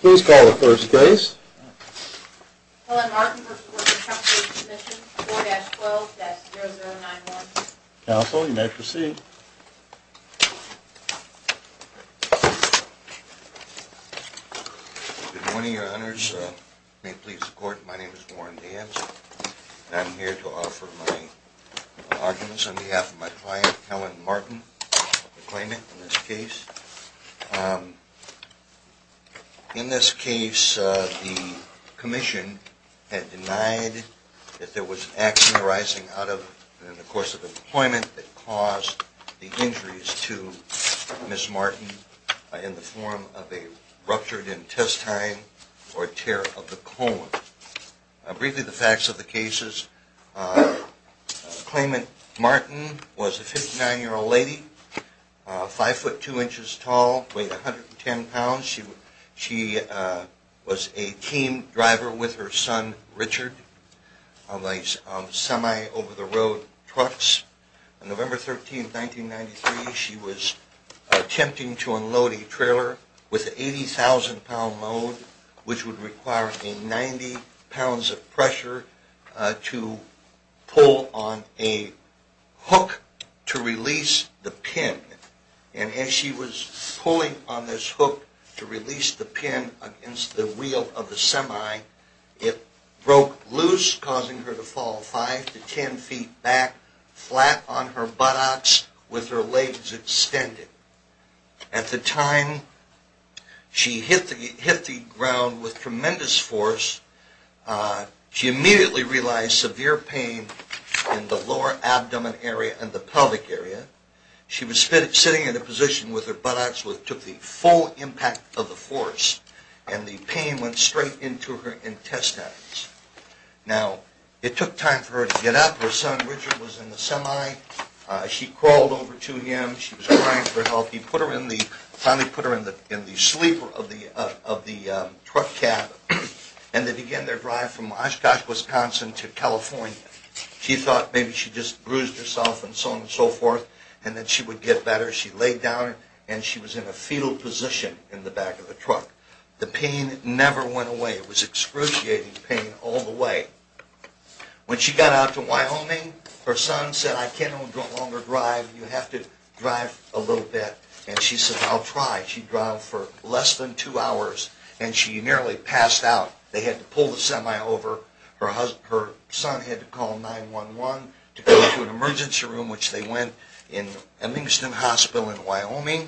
Please call the first case. Helen Martin v. Workers' Compensation Comm'n, 4-12-0091. Counsel, you may proceed. Good morning, your honors. May it please the court, my name is Warren Danson, and I'm here to offer my arguments on behalf of my client, Helen Martin, to claimant in this case. In this case, the commission had denied that there was an accident arising in the course of employment that caused the injuries to Ms. Martin in the form of a ruptured intestine or tear of the colon. Briefly, the facts of the cases. Claimant Martin was a 59-year-old lady, 5-foot-2 inches tall, weighed 110 pounds. She was a team driver with her son, Richard, on these semi-over-the-road trucks. On November 13, 1993, she was attempting to unload a trailer with an 80,000-pound load, which would require 90 pounds of pressure to pull on a hook to release the pin. And as she was pulling on this hook to release the pin against the wheel of the semi, it broke loose, causing her to fall 5-10 feet back, flat on her buttocks, with her legs extended. At the time she hit the ground with tremendous force, she immediately realized severe pain in the lower abdomen area and the pelvic area. She was sitting in a position with her buttocks which took the full impact of the force, and the pain went straight into her intestines. Now, it took time for her to get up. Her son, Richard, was in the semi. She crawled over to him. She was crying for help. He finally put her in the sleeper of the truck cab, and they began their drive from Oshkosh, Wisconsin to California. She thought maybe she just bruised herself and so on and so forth, and that she would get better. She laid down, and she was in a fetal position in the back of the truck. The pain never went away. It was excruciating pain all the way. When she got out to Wyoming, her son said, I can no longer drive. You have to drive a little bit. And she said, I'll try. She drove for less than two hours, and she nearly passed out. They had to pull the semi over. Her son had to call 911 to go to an emergency room, which they went in at Livingston Hospital in Wyoming.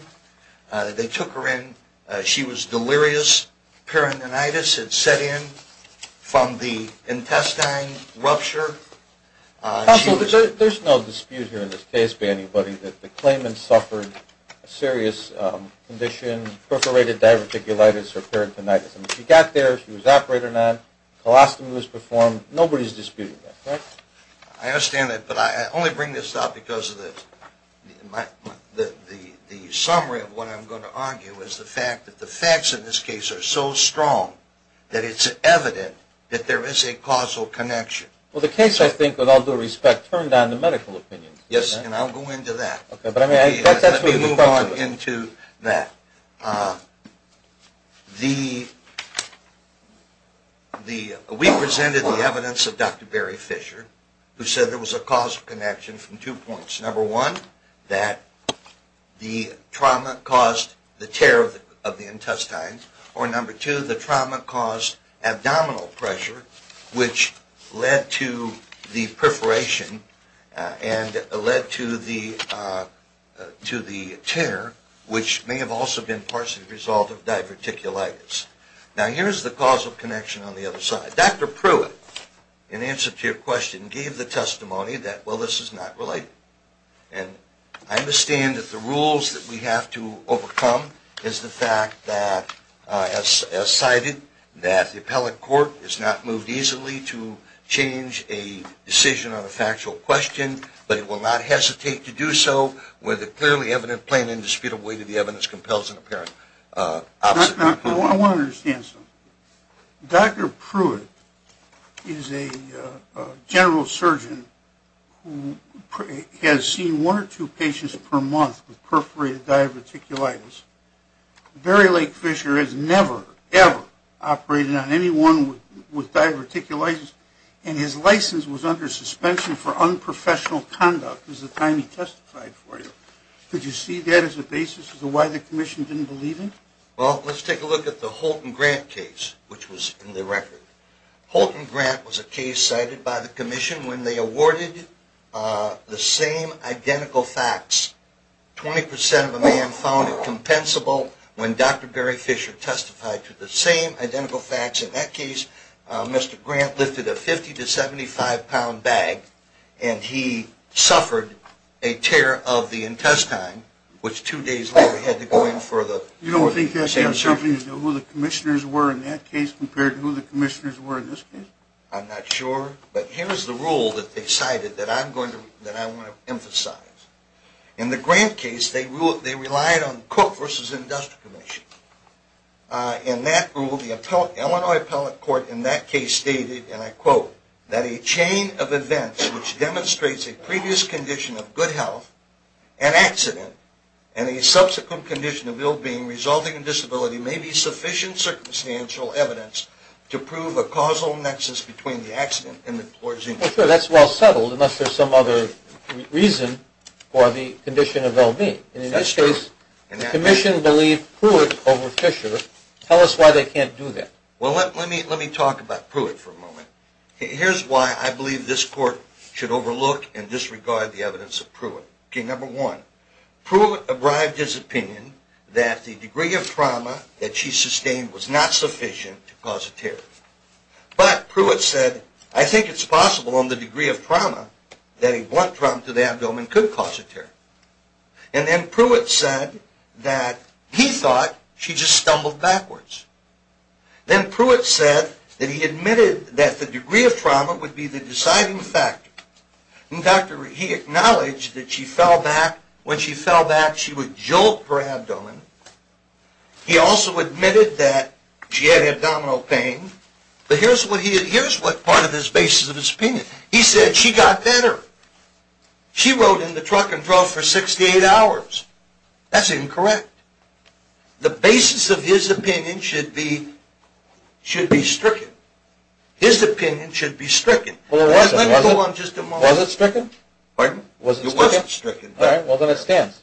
They took her in. She was delirious. Peritonitis had set in from the intestine rupture. Counsel, there's no dispute here in this case by anybody that the claimant suffered a serious condition, perforated diverticulitis or peritonitis. She got there. She was operated on. Colostomy was performed. Nobody's disputing that, correct? I understand that, but I only bring this up because the summary of what I'm going to argue is the fact that the facts in this case are so strong that it's evident that there is a causal connection. Well, the case, I think, with all due respect, turned on the medical opinion. Yes, and I'll go into that. Let me move on into that. We presented the evidence of Dr. Barry Fisher, who said there was a causal connection from two points. Number one, that the trauma caused the tear of the intestine, or number two, the trauma caused abdominal pressure, which led to the perforation and led to the tear, which may have also been partially the result of diverticulitis. Now, here's the causal connection on the other side. Dr. Pruitt, in answer to your question, gave the testimony that, well, this is not related. And I understand that the rules that we have to overcome is the fact that, as cited, that the appellate court has not moved easily to change a decision on a factual question, but it will not hesitate to do so with a clearly evident, plain and indisputable way that the evidence compels an apparent opposite. I want to understand something. Dr. Pruitt is a general surgeon who has seen one or two patients per month with perforated diverticulitis. Barry Lake Fisher has never, ever operated on anyone with diverticulitis, and his license was under suspension for unprofessional conduct at the time he testified for you. Could you see that as a basis for why the commission didn't believe him? Well, let's take a look at the Holton-Grant case, which was in the record. Holton-Grant was a case cited by the commission when they awarded the same identical facts. Twenty percent of the men found it compensable when Dr. Barry Fisher testified to the same identical facts. In that case, Mr. Grant lifted a 50- to 75-pound bag, and he suffered a tear of the intestine, which two days later had to go in for the... You don't think that says something as to who the commissioners were in that case compared to who the commissioners were in this case? I'm not sure, but here's the rule that they cited that I want to emphasize. In the Grant case, they relied on Cook v. Industrial Commission. In that rule, the Illinois Appellate Court in that case stated, and I quote, "...that a chain of events which demonstrates a previous condition of good health, an accident, and a subsequent condition of ill-being resulting in disability may be sufficient circumstantial evidence to prove a causal nexus between the accident and the...." Well, sure, that's well settled, unless there's some other reason for the condition of ill-being. That's true. And in this case, the commission believed Pruitt over Fisher. Tell us why they can't do that. Well, let me talk about Pruitt for a moment. Here's why I believe this court should overlook and disregard the evidence of Pruitt. Okay, number one, Pruitt abrived his opinion that the degree of trauma that she sustained was not sufficient to cause a tear. But Pruitt said, I think it's possible on the degree of trauma that a blunt trauma to the abdomen could cause a tear. And then Pruitt said that he thought she just stumbled backwards. Then Pruitt said that he admitted that the degree of trauma would be the deciding factor. In fact, he acknowledged that when she fell back, she would jolt her abdomen. He also admitted that she had abdominal pain. But here's what part of his basis of his opinion. He said she got better. She rode in the truck and drove for 68 hours. That's incorrect. The basis of his opinion should be stricken. His opinion should be stricken. Well, it wasn't. Let me go on just a moment. Was it stricken? Pardon? Was it stricken? It wasn't stricken. Well, then it stands.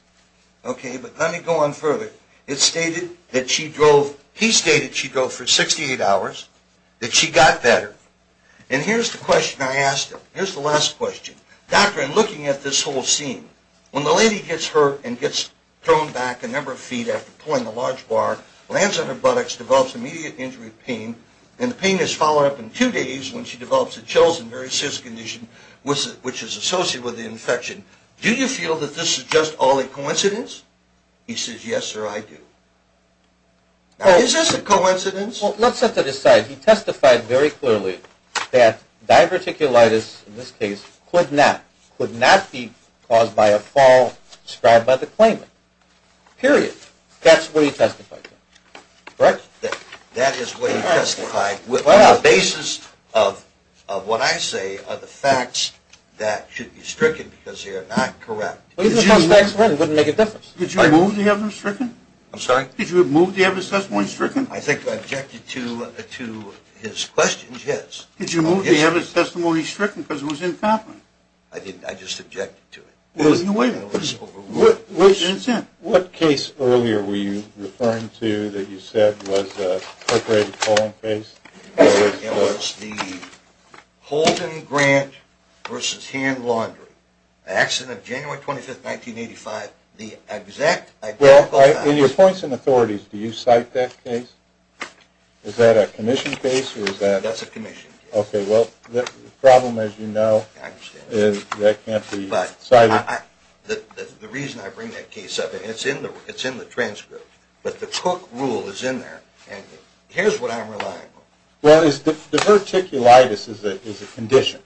Okay, but let me go on further. It's stated that she drove, he stated she drove for 68 hours, that she got better. And here's the question I asked him. Here's the last question. Doctor, in looking at this whole scene, when the lady gets hurt and gets thrown back a number of feet after pulling a large bar, lands on her buttocks, develops immediate injury pain, and the pain is followed up in two days when she develops a chills and very serious condition which is associated with the infection. Do you feel that this is just all a coincidence? He says, yes, sir, I do. Now, is this a coincidence? Well, let's have to decide. He testified very clearly that diverticulitis, in this case, could not, could not be caused by a fall described by the claimant. Period. That's what he testified to. Correct? That is what he testified with the basis of what I say are the facts that should be stricken because they are not correct. It wouldn't make a difference. Did you move to have them stricken? I'm sorry? Did you move to have his testimony stricken? I think I objected to his question, yes. Did you move to have his testimony stricken because it was incompetent? I didn't. I just objected to it. There was no way that was overruled. What case earlier were you referring to that you said was a perforated colon case? It was the Holden Grant v. Hand Laundry. The accident of January 25, 1985. Well, in your points and authorities, do you cite that case? Is that a commission case? That's a commission case. Okay, well, the problem, as you know, is that it can't be cited. The reason I bring that case up, and it's in the transcript, but the Cook Rule is in there, and here's what I'm relying on. Well, diverticulitis is a condition.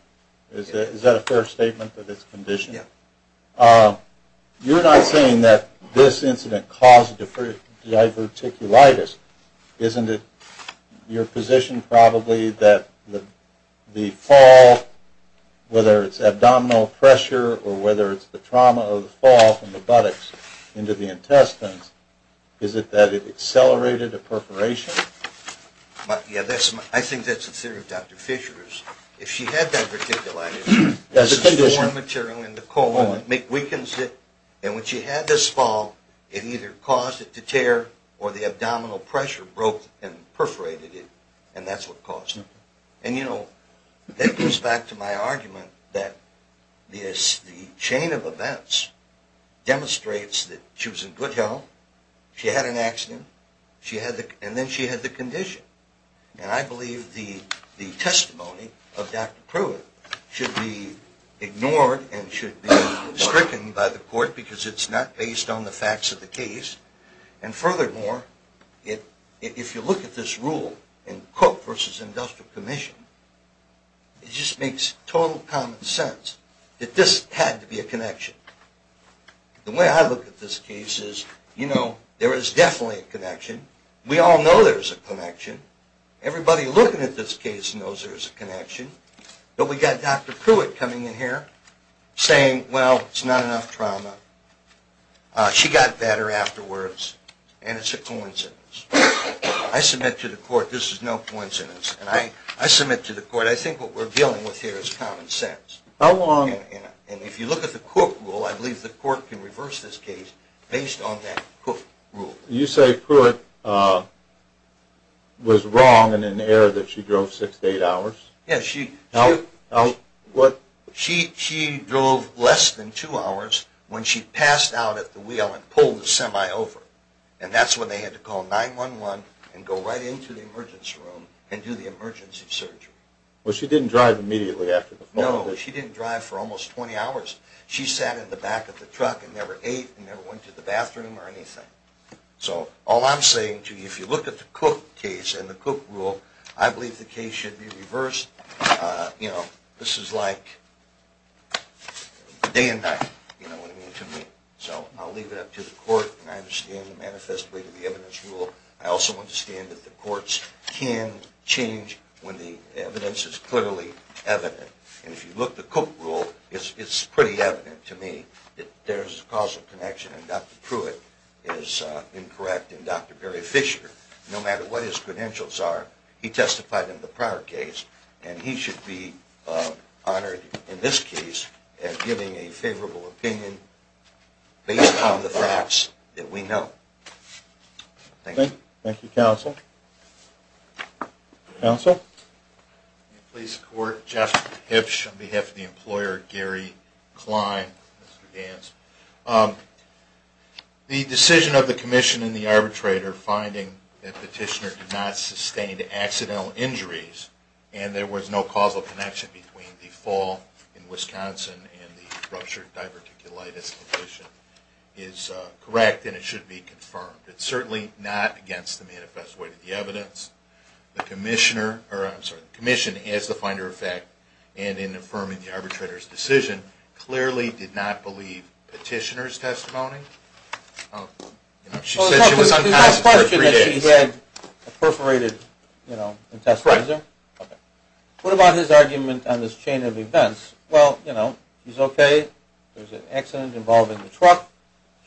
Is that a fair statement that it's a condition? Yes. You're not saying that this incident caused diverticulitis, isn't it? Your position probably that the fall, whether it's abdominal pressure or whether it's the trauma of the fall from the buttocks into the intestines, is it that it accelerated a perforation? Yeah, I think that's the theory of Dr. Fisher. If she had that verticulitis, it's a foreign material in the colon. It weakens it, and when she had this fall, it either caused it to tear or the abdominal pressure broke and perforated it, and that's what caused it. And, you know, that goes back to my argument that the chain of events demonstrates that she was in good health, she had an accident, and then she had the condition. And I believe the testimony of Dr. Pruitt should be ignored and should be stricken by the court because it's not based on the facts of the case. And furthermore, if you look at this rule in Cook v. Industrial Commission, it just makes total common sense that this had to be a connection. The way I look at this case is, you know, there is definitely a connection. We all know there's a connection. Everybody looking at this case knows there's a connection. But we got Dr. Pruitt coming in here saying, well, it's not enough trauma. She got better afterwards, and it's a coincidence. I submit to the court this is no coincidence, and I submit to the court I think what we're dealing with here is common sense. And if you look at the Cook rule, I believe the court can reverse this case based on that Cook rule. You say Pruitt was wrong in an error that she drove six to eight hours? Yes, she drove less than two hours when she passed out at the wheel and pulled the semi over. And that's when they had to call 911 and go right into the emergency room and do the emergency surgery. Well, she didn't drive immediately after the fall? No, she didn't drive for almost 20 hours. She sat in the back of the truck and never ate and never went to the bathroom or anything. So all I'm saying to you, if you look at the Cook case and the Cook rule, I believe the case should be reversed. This is like day and night, you know what I mean, to me. So I'll leave it up to the court, and I understand the manifest way to the evidence rule. I also understand that the courts can change when the evidence is clearly evident. And if you look at the Cook rule, it's pretty evident to me that there's a causal connection and Dr. Pruitt is incorrect and Dr. Barry Fisher, no matter what his credentials are, he testified in the prior case, and he should be honored in this case as giving a favorable opinion based on the facts that we know. Thank you. Thank you, counsel. Counsel? Please support Jeff Hipsch on behalf of the employer, Gary Klein. The decision of the commission and the arbitrator finding that Petitioner did not sustain accidental injuries and there was no causal connection between the fall in Wisconsin and the ruptured diverticulitis condition is correct and it should be confirmed. It's certainly not against the manifest way to the evidence. The commission as the finder of fact and in affirming the arbitrator's decision clearly did not believe Petitioner's testimony. She said she was unconscious for three days. There's no question that she had a perforated intestine. Right. Okay. What about his argument on this chain of events? Well, you know, she's okay. There's an accident involving the truck.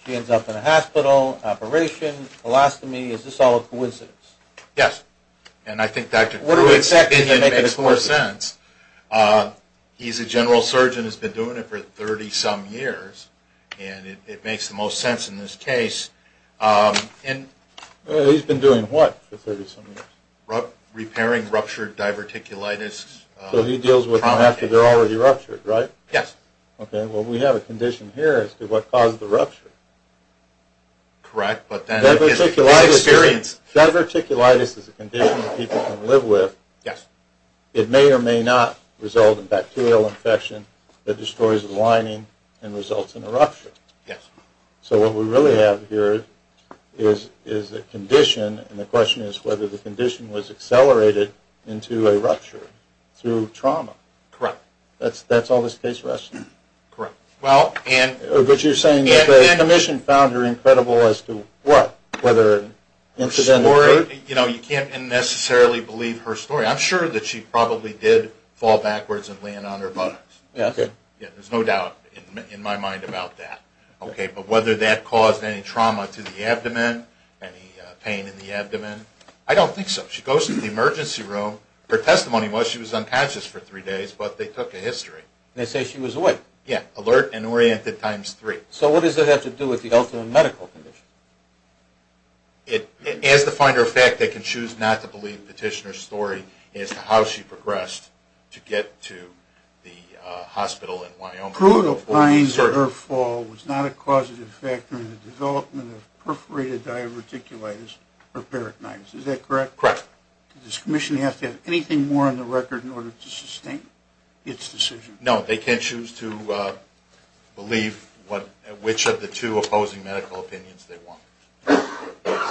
She ends up in a hospital, operation, colostomy. Is this all a coincidence? Yes. And I think that makes more sense. He's a general surgeon, has been doing it for 30-some years, and it makes the most sense in this case. He's been doing what for 30-some years? Repairing ruptured diverticulitis trauma. So he deals with them after they're already ruptured, right? Yes. Okay. Well, we have a condition here as to what caused the rupture. Correct, but then it's experience. Diverticulitis is a condition that people can live with. Yes. It may or may not result in bacterial infection that destroys the lining and results in a rupture. Yes. So what we really have here is a condition, and the question is whether the condition was accelerated into a rupture through trauma. Correct. That's all this case rests on? Correct. But you're saying that the condition found her incredible as to what? Whether incident occurred? You can't necessarily believe her story. I'm sure that she probably did fall backwards and land on her buttocks. Okay. There's no doubt in my mind about that. But whether that caused any trauma to the abdomen, any pain in the abdomen, I don't think so. She goes to the emergency room. Her testimony was she was unconscious for three days, but they took a history. They say she was awake? Yes. Alert and oriented times three. So what does that have to do with the ultimate medical condition? As the finder of fact, they can choose not to believe the petitioner's story as to how she progressed to get to the hospital in Wyoming. Crude opines that her fall was not a causative factor in the development of perforated diverticulitis or peritonitis. Is that correct? Correct. Does this commission have to have anything more on the record in order to sustain its decision? No, they can't choose to believe which of the two opposing medical opinions they want.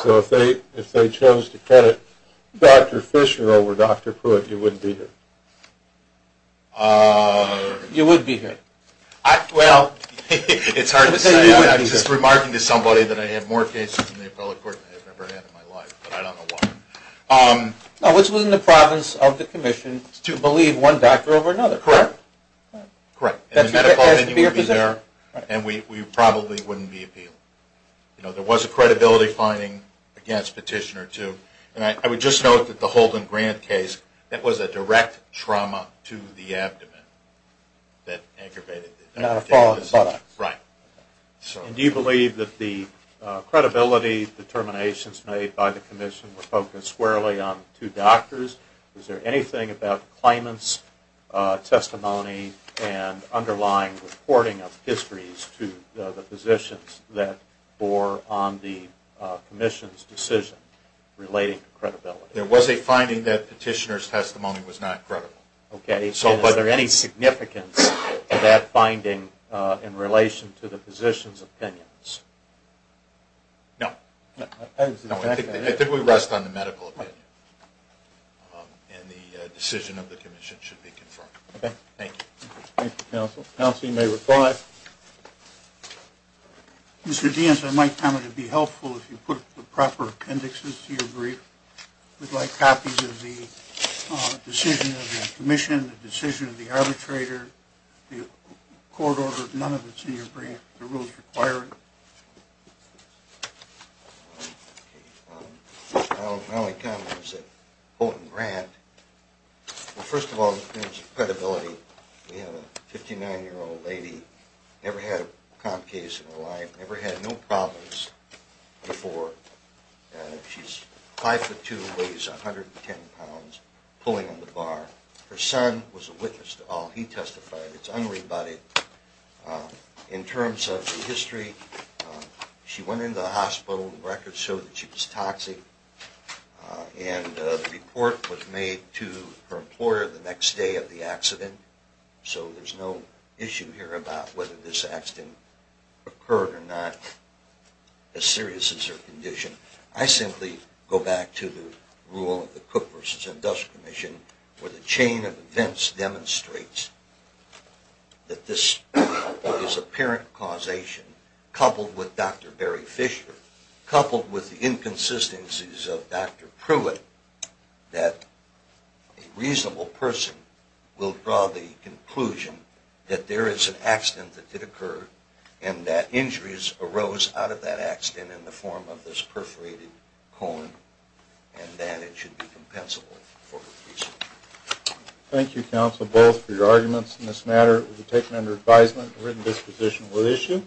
So if they chose to credit Dr. Fisher over Dr. Pruitt, you wouldn't be here? You would be here. Well, it's hard to say. I'm just remarking to somebody that I have more cases in the appellate court than I have ever had in my life, but I don't know why. No, which was in the province of the commission to believe one doctor over another. Correct. Correct. And the medical opinion would be there, and we probably wouldn't be appealing. You know, there was a credibility finding against Petitioner, too. And I would just note that the Holden Grant case, that was a direct trauma to the abdomen that aggravated it. Not a fall in the buttocks. Right. And do you believe that the credibility determinations made by the commission were focused squarely on two doctors? Was there anything about claimant's testimony and underlying reporting of histories to the physicians that bore on the commission's decision relating to credibility? There was a finding that Petitioner's testimony was not credible. Okay. So was there any significance to that finding in relation to the physicians' opinions? No. No. I think we rest on the medical opinion. And the decision of the commission should be confirmed. Okay. Thank you. Thank you, counsel. Counsel, you may reply. Mr. Deans, I might comment it would be helpful if you put the proper appendixes to your brief. We'd like copies of the decision of the commission, the decision of the arbitrator, the court order. None of it's in your brief. The rules require it. My only comment is that Holden Grant, well, first of all, in terms of credibility, we have a 59-year-old lady, never had a comp case in her life, never had no problems before. She's 5'2", weighs 110 pounds, pulling on the bar. Her son was a witness to all. He testified. It's unrebutted. In terms of the history, she went into the hospital. The records show that she was toxic. And the report was made to her employer the next day of the accident. So there's no issue here about whether this accident occurred or not, as serious as her condition. I simply go back to the rule of the Cook v. Industrial Commission where the chain of events demonstrates that this is apparent causation, coupled with Dr. that there is an accident that did occur and that injuries arose out of that accident in the form of this perforated colon, and that it should be compensable for the reason. Thank you, counsel, both, for your arguments in this matter. It will be taken under advisement. The written disposition will issue.